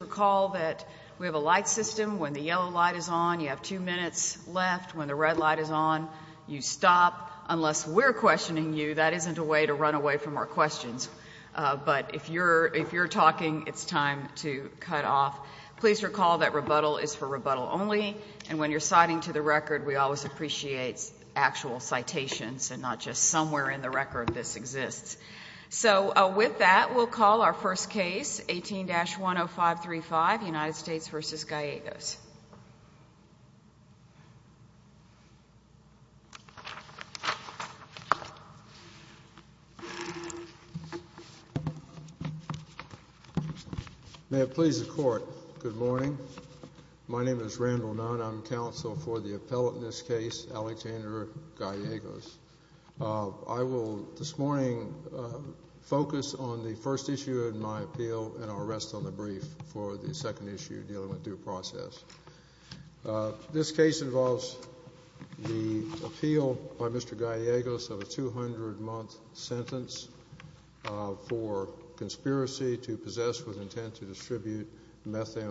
recall that we have a light system. When the yellow light is on, you have two minutes left. When the red light is on, you stop. Unless we're questioning you, that isn't a way to run away from our questions. But if you're if you're talking, it's time to cut off. Please recall that rebuttal is for rebuttal only. And when you're citing to the record, we always appreciates actual citations and not just somewhere in the record. This exists. So with that, we'll call our first case, 18-10535, United States v. Gallegos. May it please the court. Good morning. My name is Randall Nunn. I'm counsel for the appellate in this case, Alexander Gallegos. I will this morning focus on the first issue in my appeal and I'll rest on the brief for the second issue dealing with due process. This case involves the appeal by Mr. Gallegos of a 200-month sentence for conspiracy to possess with intent to distribute a level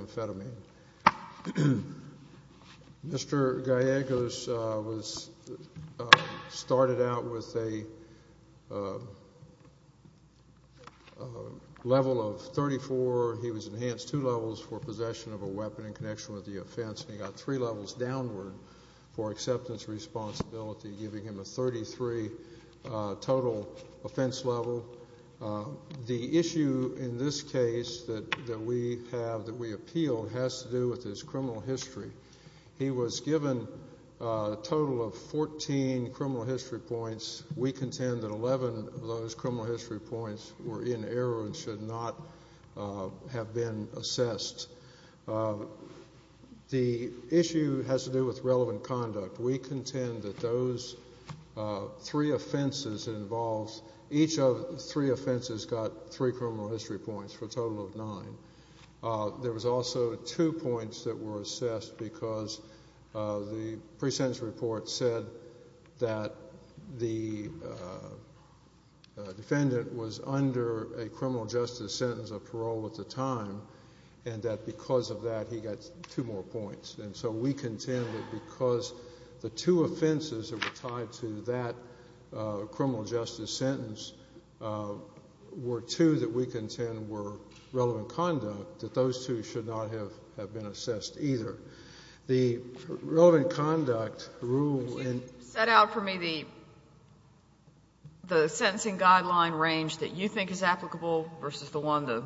of 34. He was enhanced two levels for possession of a weapon in connection with the offense. He got three levels downward for acceptance responsibility, giving him a 33 total offense level. The issue in this case that we have that we appeal has to do with his criminal history. He was given a total of 14 criminal history points. We contend that 11 of those criminal history points were in error and should not have been assessed. The issue has to do with relevant conduct. We contend that those three offenses involved, each of the three offenses got three criminal history points for a total of nine. There was also two points that were assessed because the pre-sentence report said that the defendant was under a criminal justice sentence of parole at the time and that because of that he got two more points. And so we contend that because the two offenses that were tied to that criminal justice sentence were two that we contend were relevant conduct, that those two should not have been assessed either. The relevant conduct rule in the sentence that you think is applicable versus the one the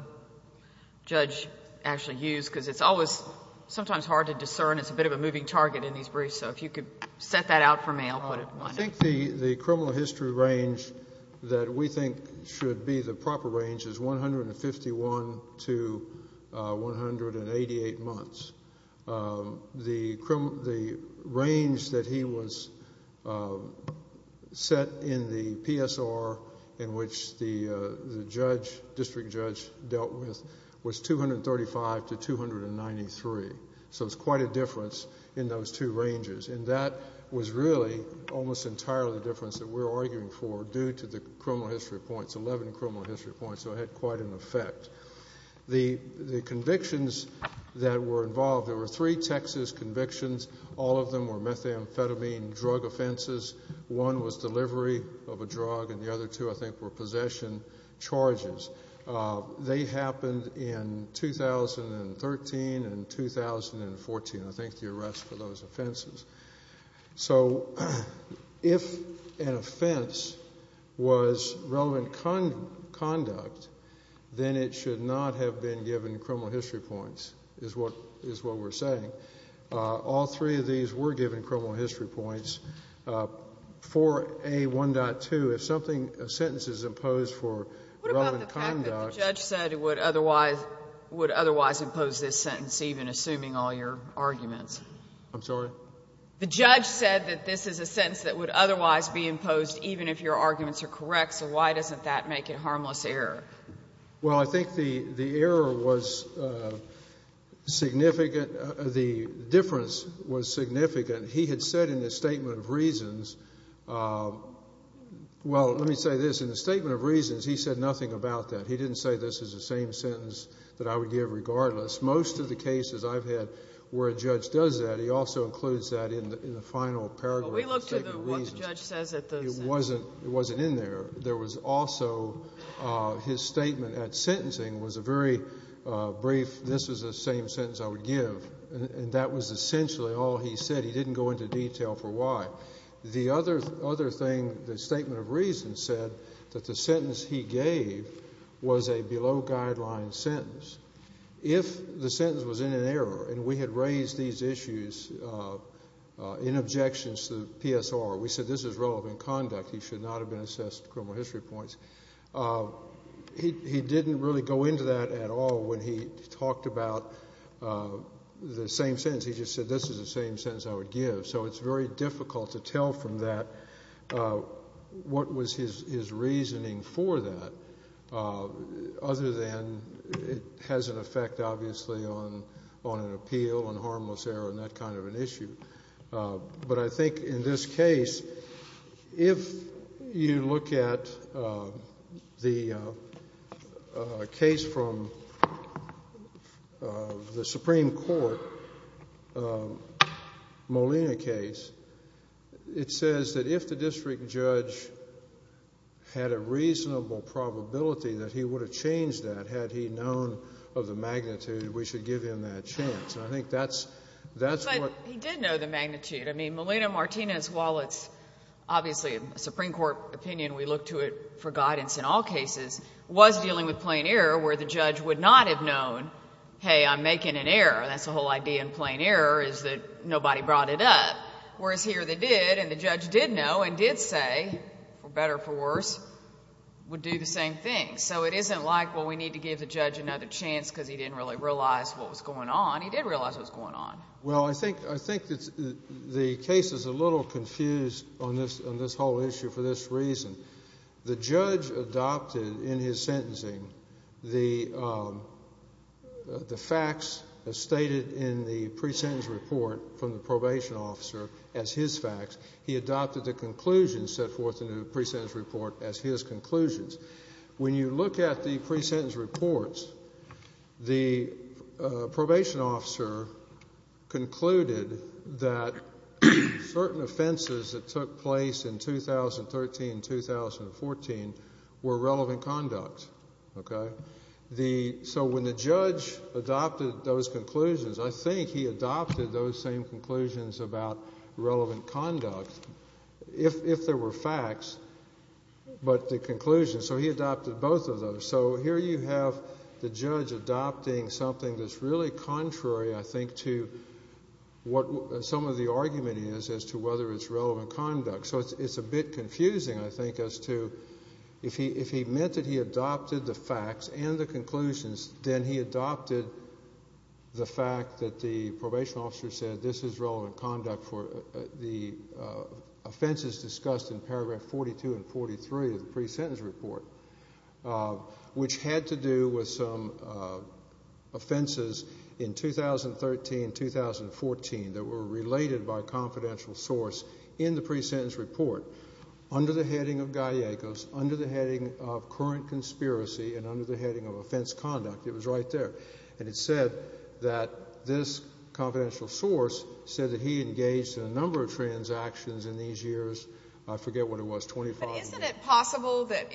judge actually used, because it's always sometimes hard to discern. It's a bit of a moving target in these briefs. So if you could set that out for me, I'll put it in my notes. I think the criminal history range that we think should be the proper range is 151 to 188 months. The range that he set in the PSR in which the district judge dealt with was 235 to 293. So it's quite a difference in those two ranges. And that was really almost entirely the difference that we're arguing for due to the criminal history points. So it had quite an effect. The convictions that were involved, there were three Texas convictions. All of them were methamphetamine drug offenses. One was delivery of a drug and the other two I think were possession charges. They happened in 2013 and 2014, I think the arrest for those offenses. So if an offense is a crime of conduct, then it should not have been given criminal history points, is what we're saying. All three of these were given criminal history points. For A1.2, if something, a sentence is imposed for drug and conduct. What about the fact that the judge said it would otherwise impose this sentence even assuming all your arguments? I'm sorry? The judge said that this is a sentence that would otherwise be imposed even if your arguments are correct. So why doesn't that make it harmless error? Well, I think the error was significant. The difference was significant. He had said in his statement of reasons, well, let me say this. In his statement of reasons, he said nothing about that. He didn't say this is the same sentence that I would give regardless. Most of the cases I've had where a judge does that, he also includes that in the final paragraph of the statement of reasons. It wasn't in there. There was also his statement at sentencing was a very brief, this is the same sentence I would give. And that was essentially all he said. He didn't go into detail for why. The other thing, the statement of reasons said that the sentence he gave was a below guideline sentence. If the sentence was in an error and we had raised these issues in objections to PSR, we said this is relevant conduct. He should not have been assessed criminal history points. He didn't really go into that at all when he talked about the same sentence. He just said this is the same sentence I would give. So it's very difficult to tell from that what was his reasoning for that other than it has an effect obviously on an appeal and harmless error and that kind of an issue. But I think in this case, if you look at the case from the Supreme Court, Molina case, it says that if the district judge had a reasonable probability that he would have changed that sentence, and had he known of the magnitude, we should give him that chance. I think that's what... But he did know the magnitude. I mean, Molina Martinez, while it's obviously a Supreme Court opinion, we look to it for guidance in all cases, was dealing with plain error where the judge would not have known, hey, I'm making an error. That's the whole idea in plain error is that nobody brought it up. Whereas here they did, and the judge did know and did say, for better or for worse, would do the same thing. So it isn't like, well, we need to give the judge another chance because he didn't really realize what was going on. He did realize what was going on. Well, I think the case is a little confused on this whole issue for this reason. The judge adopted in his sentencing the facts stated in the pre-sentence report from the probation officer as his facts. He adopted the conclusions set out in the pre-sentence report. When you look at the pre-sentence reports, the probation officer concluded that certain offenses that took place in 2013 and 2014 were relevant conduct. Okay? So when the judge adopted those conclusions, I think he adopted those same conclusions about relevant conduct, if there were facts, but the conclusions. So he adopted both of those. So here you have the judge adopting something that's really contrary, I think, to what some of the argument is as to whether it's relevant conduct. So it's a bit confusing, I think, as to if he meant that he adopted the facts and the conclusions, then he adopted the fact that the probation officer said this is relevant conduct for the offenses discussed in paragraph 42 and 43 of the pre-sentence report, which had to do with some offenses in 2013 and 2014 that were related by a confidential source in the pre-sentence report under the heading of Gallegos, under the heading of current conspiracy, and under the heading of offense conduct. It was right there. And it said that this confidential source said that he engaged in a number of transactions in these years, I forget what it was, 25 years. But isn't it possible that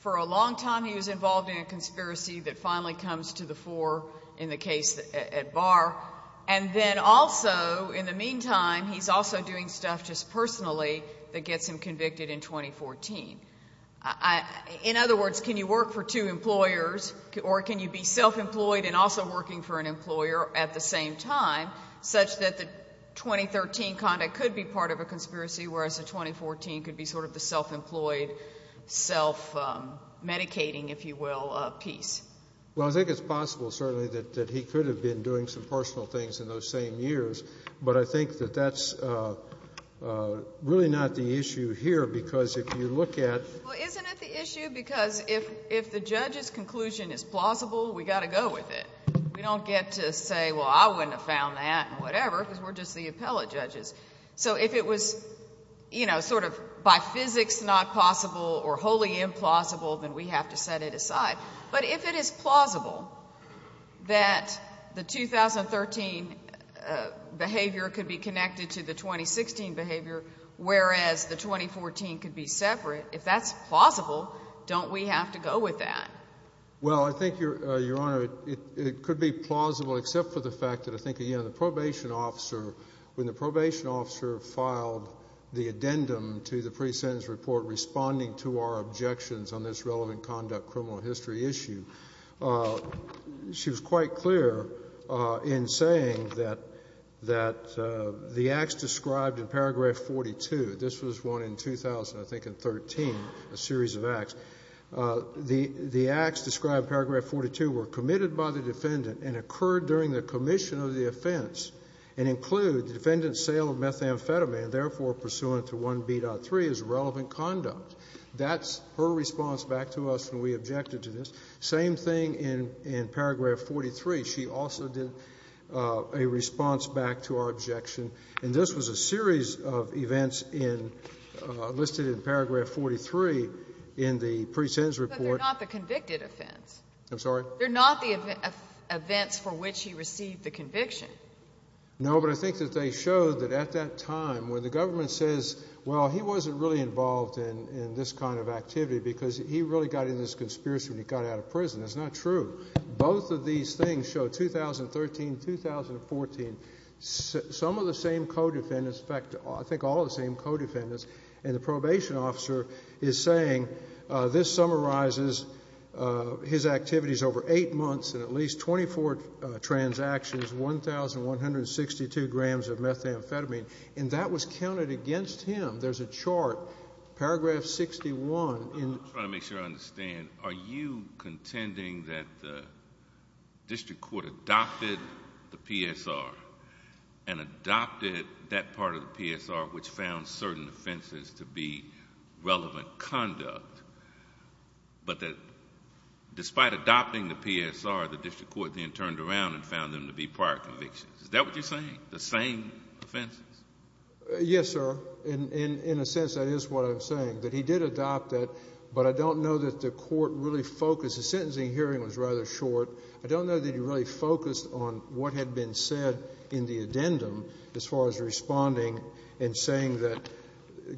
for a long time he was involved in a conspiracy that finally comes to the fore in the case at Barr, and then also, in the meantime, he's also doing stuff just personally that gets him convicted in 2014? In other words, can you work for two employers, or can you be self-employed and also working for an other conspiracy, whereas a 2014 could be sort of the self-employed, self-medicating, if you will, piece? Well, I think it's possible, certainly, that he could have been doing some personal things in those same years. But I think that that's really not the issue here, because if you look at — Well, isn't it the issue? Because if the judge's conclusion is plausible, we've got to go with it. We don't get to say, well, I wouldn't have found that, and whatever, because we're just the appellate judges. So if it was, you know, sort of by physics not possible or wholly implausible, then we have to set it aside. But if it is plausible that the 2013 behavior could be connected to the 2016 behavior, whereas the 2014 could be separate, if that's plausible, don't we have to go with that? Well, I think, Your Honor, it could be plausible, except for the fact that I think, you know, the probation officer, when the probation officer filed the addendum to the pre-sentence report responding to our objections on this relevant conduct criminal history issue, she was quite clear in saying that the acts described in paragraph 42 — this was one in 2000, I think, and 13, a series of acts — the acts described in paragraph 42 were committed by the defendant and occurred during the commission of the offense and include the defendant's sale of methamphetamine, therefore pursuant to 1B.3, as relevant conduct. That's her response back to us when we objected to this. Same thing in paragraph 43. She also did a response back to our objection, and this was a series of events in — listed in paragraph 43 in the pre-sentence report. But they're not the convicted offense. I'm sorry? They're not the events for which he received the conviction. No, but I think that they showed that at that time, when the government says, well, he wasn't really involved in this kind of activity because he really got into this conspiracy when he got out of prison. That's not true. Both of these things show, 2013, 2014, some of the same co-defendants — in fact, I think all of the same co-defendants — and the probation officer is saying, this summarizes his activities over eight months and at least 24 transactions, 1,162 grams of methamphetamine. And that was counted against him. There's a chart, paragraph 61. I'm trying to make sure I understand. Are you contending that the district court adopted the PSR and adopted that part of the PSR which found certain offenses to be relevant conduct, but that despite adopting the PSR, the district court then turned around and found them to be prior convictions? Is that what you're saying? The same offenses? Yes, sir. In a sense, that is what I'm saying, that he did adopt it, but I don't know that the court really focused — the sentencing hearing was rather short. I don't know that he really focused on what had been said in the addendum as far as responding and saying that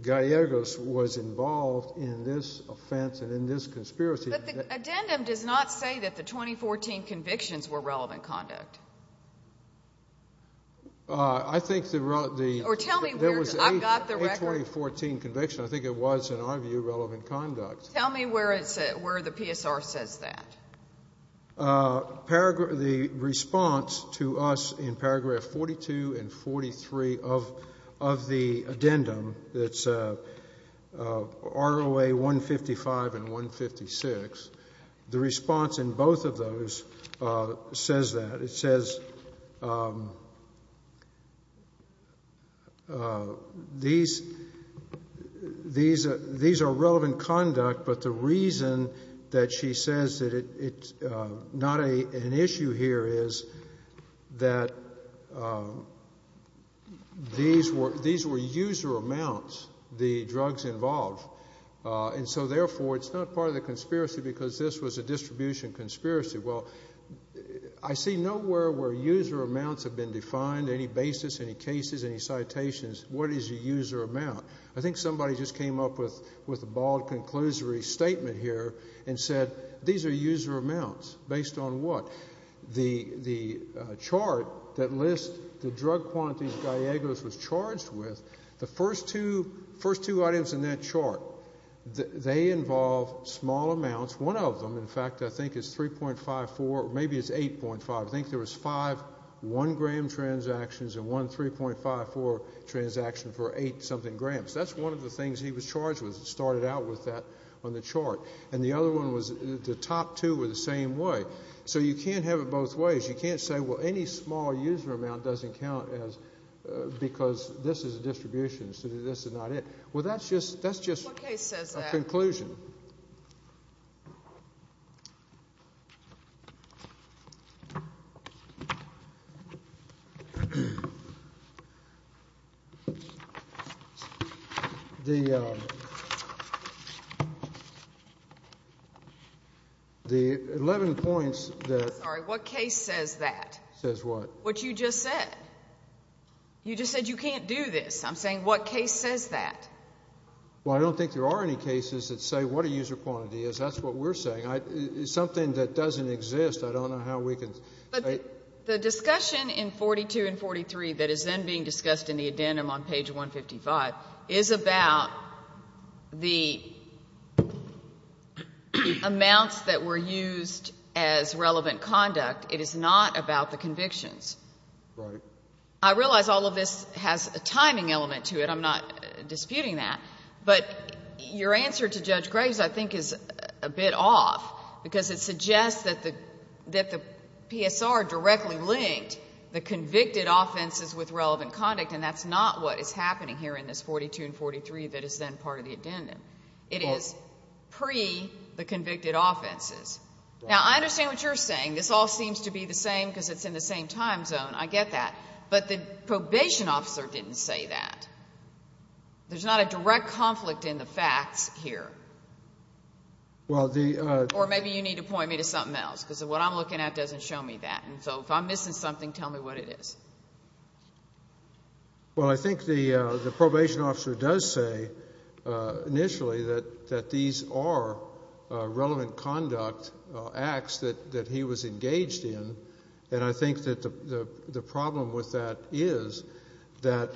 Gallegos was involved in this offense and in this conspiracy. But the addendum does not say that the 2014 convictions were relevant conduct. I think the — Or tell me where I've got the record. There was a 2014 conviction. I think it was, in our view, relevant conduct. Tell me where the PSR says that. The response to us in paragraph 42 and 43 of the addendum, that's ROA 155 and 156, the response in both of those says that. It says these are relevant conduct, but the reason that she says that it's not an issue here is that these were user amounts, the drugs involved. And so, therefore, it's not part of the conspiracy because this was a distribution conspiracy. Well, I see nowhere where user amounts have been defined, any basis, any cases, any citations. What is a user amount? I think somebody just came up with a bald conclusory statement here and said, these are user amounts. Based on what? The chart that lists the drug quantities Gallegos was charged with, the first two items in that chart, they involve small amounts. One of them, in fact, I think is 3.54, maybe it's 8.5. I think there was five one-gram transactions and one 3.54 transaction for eight-something grams. That's one of the things he was charged with. It started out with that on the chart. And the other one was the top two were the same way. So you can't have it both ways. You can't say, well, any small user amount doesn't count because this is a distribution so this is not it. Well, that's just a conclusion. The 11 points that I'm sorry, what case says that? Says what? What you just said. You just said you can't do this. I'm saying what case says that? Well, I don't think there are any cases that say what a user quantity is. That's what we're saying. Something that doesn't exist, I don't know how we can But the discussion in 42 and 43 that is then being discussed in the addendum on page 155 is about the amounts that were used as relevant conduct. It is not about the convictions. Right. I realize all of this has a timing element to it. I'm not disputing that. But your answer to Judge Graves, I think, is a bit off because it suggests that the PSR directly linked the convicted offenses with relevant conduct and that's not what is happening here in this 42 and 43 that is then part of the addendum. It is pre the convicted offenses. Now, I understand what you're saying. This all seems to be the same because it's in the same time zone. I get that. But the probation officer didn't say that. There's not a direct conflict in the facts here. Or maybe you need to point me to something else because what I'm looking at doesn't show me that. So if I'm missing something, tell me what it is. Well, I think the probation officer does say initially that these are relevant conduct that he was engaged in. And I think that the problem with that is that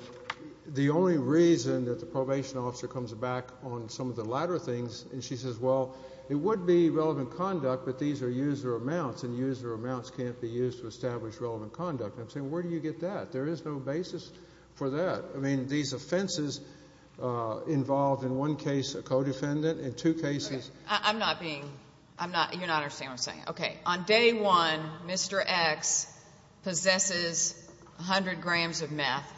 the only reason that the probation officer comes back on some of the latter things and she says, well, it would be relevant conduct, but these are user amounts and user amounts can't be used to establish relevant conduct. I'm saying where do you get that? There is no basis for that. I mean, these offenses involved in one case a co-defendant, in two cases. I'm not being, I'm not, you're not understanding what I'm saying. Okay. On day one, Mr. X possesses 100 grams of meth.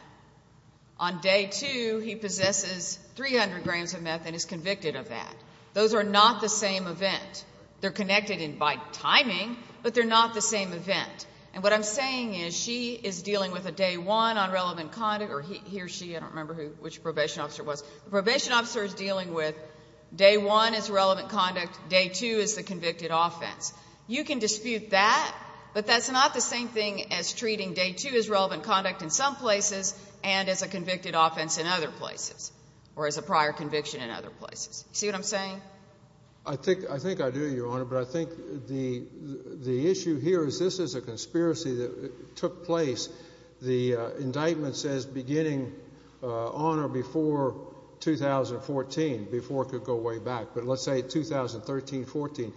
On day two, he possesses 300 grams of meth and is convicted of that. Those are not the same event. They're connected in by timing, but they're not the same event. And what I'm saying is she is dealing with a day one on relevant conduct or he or she, I don't remember who, which probation officer was. The probation officer is dealing with day one as relevant conduct. Day two is the convicted offense. You can dispute that, but that's not the same thing as treating day two as relevant conduct in some places and as a convicted offense in other places or as a prior conviction in other places. See what I'm saying? I think, I think I do, Your Honor, but I think the, the issue here is this is a conspiracy that took place. The indictment says beginning on or before 2014, before it could go way back, but let's say 2013, 14.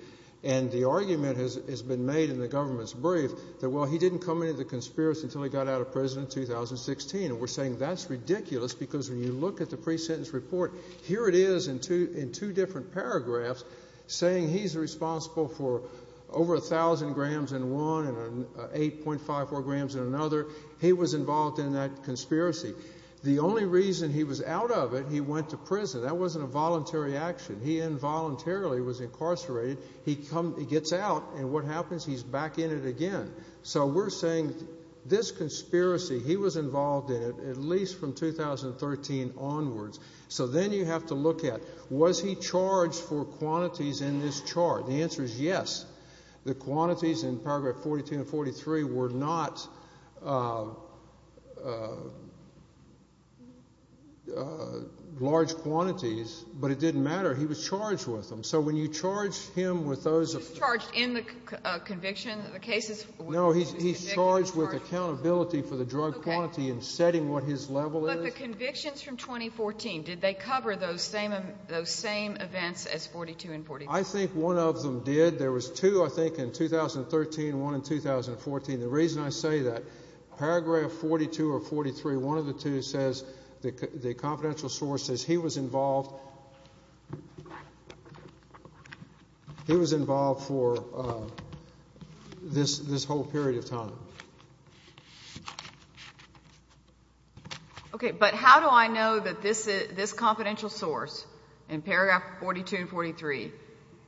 And the argument has, has been made in the government's brief that, well, he didn't come into the conspiracy until he got out of prison in 2016. And we're saying that's ridiculous because when you look at the pre-sentence report, here it is in two, in two different paragraphs saying he's responsible for over a thousand grams in one and an 8.54 grams in another. He was involved in that and went to prison. That wasn't a voluntary action. He involuntarily was incarcerated. He comes, he gets out and what happens? He's back in it again. So we're saying this conspiracy, he was involved in it at least from 2013 onwards. So then you have to look at was he charged for quantities in this chart? The answer is yes. The quantities in paragraph 42 and 43 were not large quantities, but it didn't matter. He was charged with them. So when you charge him with those. He's charged in the conviction, the cases? No, he's charged with accountability for the drug quantity and setting what his level is. But the convictions from 2014, did they cover those same, those same events as 42 and 45? I think one of them did. There was two I think in 2013, one in 2014. The reason I say that, paragraph 42 or 43, one of the two says, the confidential source says he was involved, he was involved for this whole period of time. Okay, but how do I know that this confidential source in paragraph 42 and 43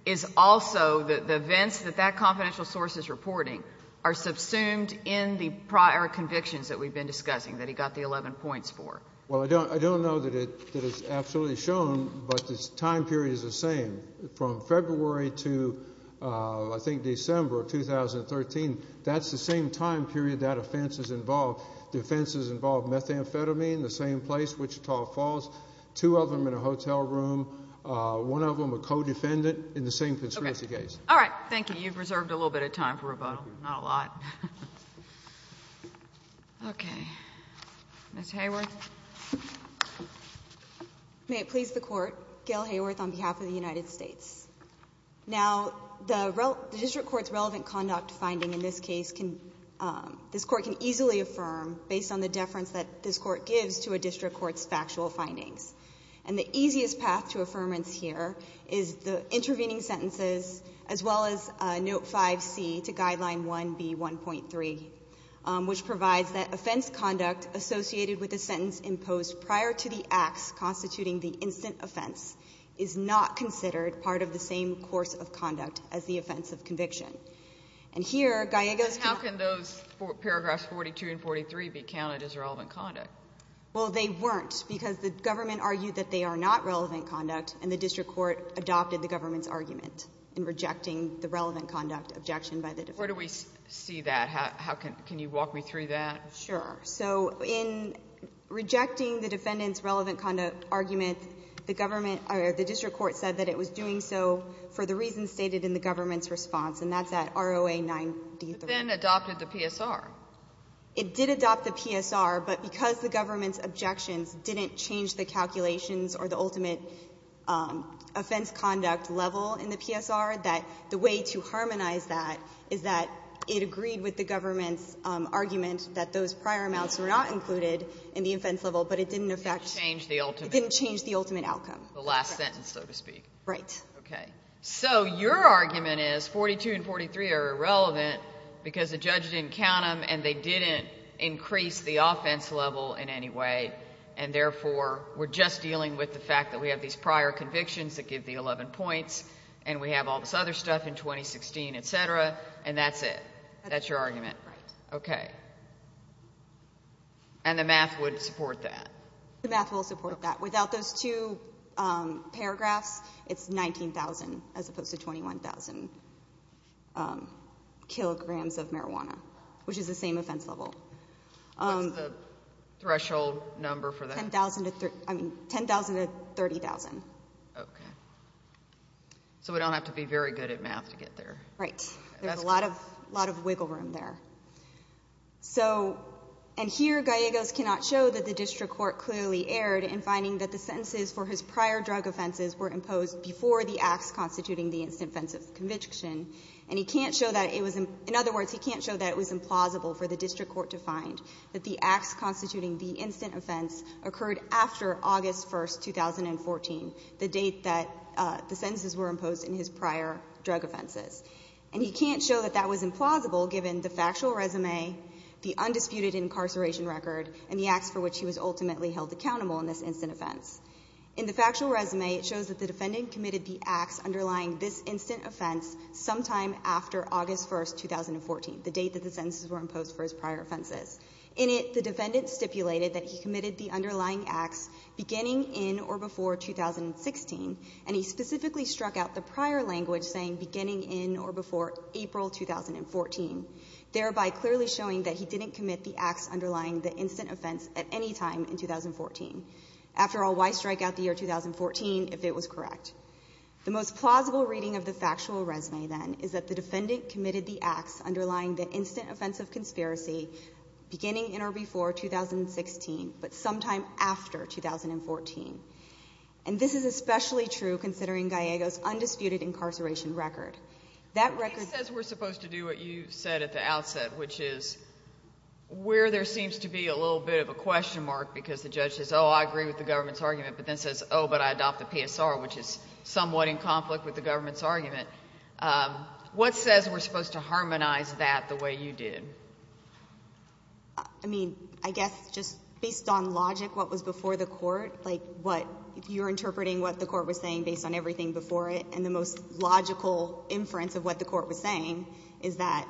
is also the events that that confidential source is reporting are subsumed in the prior convictions that we've been discussing, that he got the 11 points for? Well, I don't know that it is absolutely shown, but the time period is the same. From February to I think December of 2013, that's the same time period that offense is involved. The offenses involve methamphetamine, the same place, Wichita Falls, two of them in a hotel room. One of them a co-defendant in the same conspiracy case. Okay. All right. Thank you. You've reserved a little bit of time for rebuttal, not a lot. Okay. Ms. Hayworth. May it please the Court, Gail Hayworth on behalf of the United States. Now, the district court's relevant conduct finding in this case can, this Court can easily affirm based on the deference that this Court gives to a district court's factual findings. And the easiest path to affirmance here is the intervening sentences as well as Note 5C to Guideline 1B1.3, which provides that offense conduct associated with a sentence imposed prior to the acts constituting the instant offense is not considered part of the same course of conduct as the offense of conviction. And here, Gallego's paragraph 42 and 43 be counted as relevant conduct? Well, they weren't, because the government argued that they are not relevant conduct, and the district court adopted the government's argument in rejecting the relevant conduct objection by the district court. Where do we see that? How can you walk me through that? Sure. So in rejecting the defendant's relevant conduct argument, the government or the district court said that it was doing so for the reasons stated in the government's And it then adopted the PSR. It did adopt the PSR, but because the government's objections didn't change the calculations or the ultimate offense conduct level in the PSR, that the way to harmonize that is that it agreed with the government's argument that those prior amounts were not included in the offense level, but it didn't affect the ultimate outcome. It didn't change the ultimate outcome. The last sentence, so to speak. Right. So your argument is 42 and 43 are irrelevant because the judge didn't count them and they didn't increase the offense level in any way, and therefore we're just dealing with the fact that we have these prior convictions that give the 11 points and we have all this other stuff in 2016, et cetera, and that's it? That's your argument? Right. Okay. And the math would support that? The math will support that. Without those two paragraphs, it's 19,000 as opposed to 21,000 kilograms of marijuana, which is the same offense level. What's the threshold number for that? 10,000 to 30,000. Okay. So we don't have to be very good at math to get there. Right. There's a lot of wiggle room there. So, and here Gallegos cannot show that the district court clearly erred in finding that the sentences for his prior drug offenses were imposed before the acts constituting the instant offense of conviction. And he can't show that it was, in other words, he can't show that it was implausible for the district court to find that the acts constituting the instant offense occurred after August 1, 2014, the date that the sentences were imposed in his prior drug offenses. And he can't show that that was implausible given the factual resume, the undisputed incarceration record, and the acts for which he was ultimately held accountable in this instant offense. In the factual resume, it shows that the defendant committed the acts underlying this instant offense sometime after August 1, 2014, the date that the sentences were imposed for his prior offenses. In it, the defendant stipulated that he committed the underlying acts beginning in or before 2016, and he specifically struck out the prior language saying beginning in or before April 2014, thereby clearly showing that he didn't commit the acts underlying the instant offense at any time in 2014. After all, why strike out the year 2014 if it was correct? The most plausible reading of the factual resume, then, is that the defendant committed the acts underlying the instant offense of conspiracy beginning in or before 2016, but sometime after 2014. And this is especially true considering Gallego's undisputed incarceration record. That record says we're supposed to do what you said at the outset, which is where there seems to be a little bit of a question mark because the judge says, oh, I agree with the government's argument, but then says, oh, but I adopt the PSR, which is somewhat in conflict with the government's argument. What says we're supposed to harmonize that the way you did? I mean, I guess just based on logic, what was before the court, like what you're interpreting what the court was saying based on everything before it, and the most logical inference of what the court was saying is that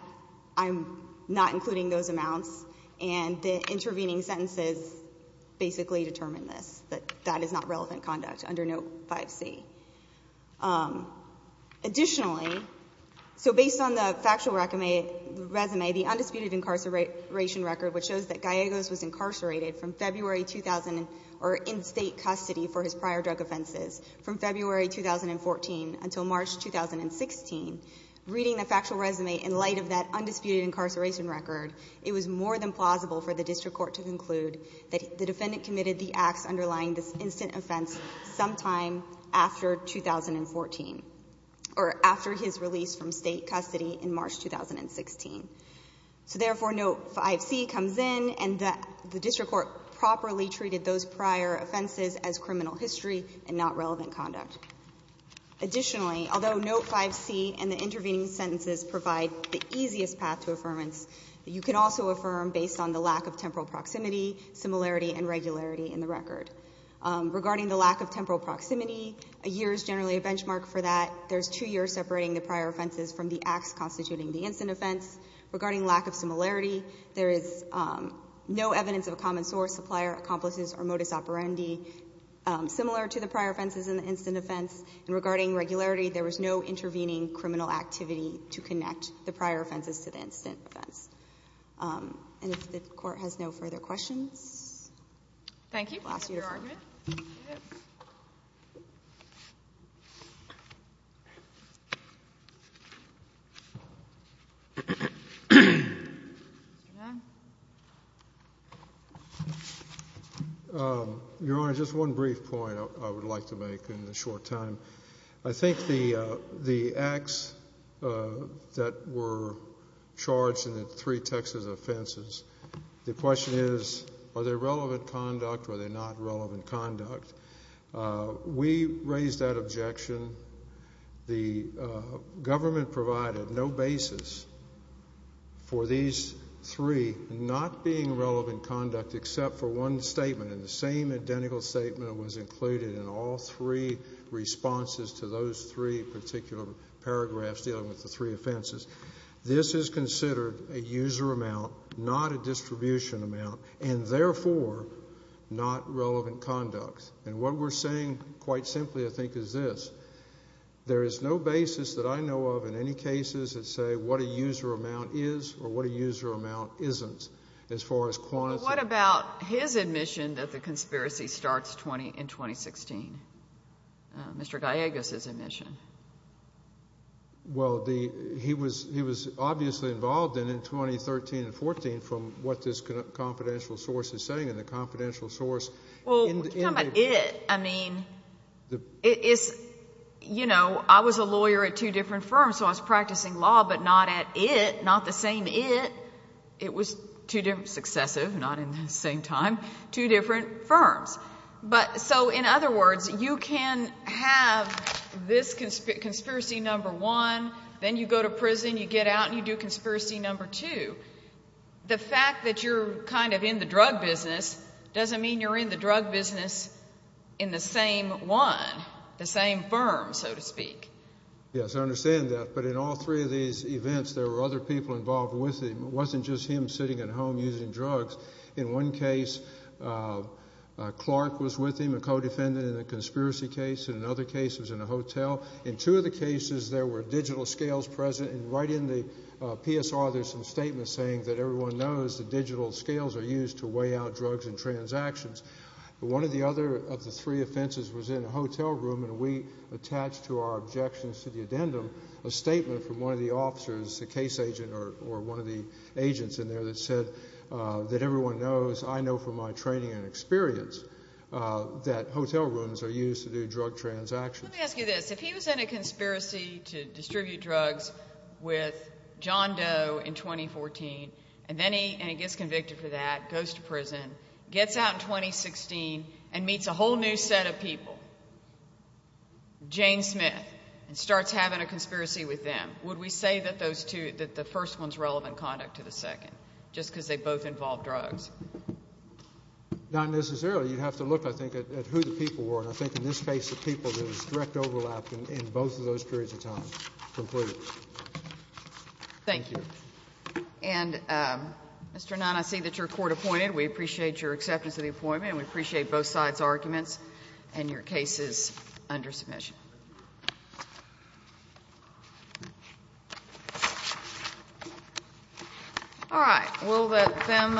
I'm not including those amounts, and the intervening sentences basically determine this, that that is not relevant conduct under Note 5C. Additionally, so based on the factual resume, the undisputed incarceration record, which shows that Gallego's was incarcerated from February 2000 or in state custody for his prior drug offenses from February 2014 until March 2016, reading the factual resume in light of that undisputed incarceration record, it was more than plausible for the district court to conclude that the defendant committed the acts underlying this instant offense sometime after 2014, or after his release from state custody in March 2016. So, therefore, Note 5C comes in, and the district court properly treated those prior offenses as criminal history and not relevant conduct. Additionally, although Note 5C and the intervening sentences provide the easiest path to affirmance, you can also affirm based on the lack of temporal proximity, similarity, and regularity in the record. Regarding the lack of temporal proximity, a year is generally a benchmark for that. There's two years separating the prior offenses from the acts constituting the instant offense. Regarding lack of similarity, there is no evidence of a common source, supplier, accomplices, or modus operandi similar to the prior offenses in the instant offense. And regarding regularity, there was no intervening criminal activity to connect the prior offenses to the instant offense. And if the Court has no further questions. Thank you. Last year's argument. Your Honor, just one brief point I would like to make in the short time. I think the acts that were charged in the three Texas offenses, the question is, are they relevant conduct or are they not relevant conduct? We raised that objection. The government provided no basis for these three not being relevant conduct except for one statement. And the same identical statement was included in all three responses to those three particular paragraphs dealing with the three offenses. This is considered a user amount, not a distribution amount, and therefore not relevant conduct. And what we're saying, quite simply, I think, is this. There is no basis that I know of in any cases that say what a user amount is or what a user amount isn't as far as quantity. Well, what about his admission that the conspiracy starts in 2016? Mr. Gallegos's admission. Well, he was obviously involved in 2013 and 2014 from what this confidential source is saying. And the confidential source. Well, we're talking about it. I mean, it's, you know, I was a lawyer at two different firms, so I was practicing law, but not at it, not the same it. It was two different successive, not in the same time, two different firms. So, in other words, you can have this conspiracy number one, then you go to prison, you get out, and you do conspiracy number two. The fact that you're kind of in the drug business doesn't mean you're in the drug business in the same one, the same firm, so to speak. Yes, I understand that. But in all three of these events, there were other people involved with him. It wasn't just him sitting at home using drugs. In one case, Clark was with him, a co-defendant in a conspiracy case. In another case, he was in a hotel. In two of the cases, there were digital scales present. And right in the PSR, there's some statements saying that everyone knows that digital scales are used to weigh out drugs and transactions. One of the other of the three offenses was in a hotel room, and we attached to our objections to the addendum a statement from one of the officers, a case agent or one of the agents in there, that said that everyone knows, I know from my training and experience, that hotel rooms are used to do drug transactions. Let me ask you this. If he was in a conspiracy to distribute drugs with John Doe in 2014, gets out in 2016, and meets a whole new set of people, Jane Smith, and starts having a conspiracy with them, would we say that those two, that the first one's relevant conduct to the second, just because they both involve drugs? Not necessarily. You'd have to look, I think, at who the people were. And I think in this case, the people, there was direct overlap in both of those periods of time completely. Thank you. And, Mr. Nunn, I see that you're court-appointed. We appreciate your acceptance of the appointment, and we appreciate both sides' arguments and your cases under submission. All right. We'll let them.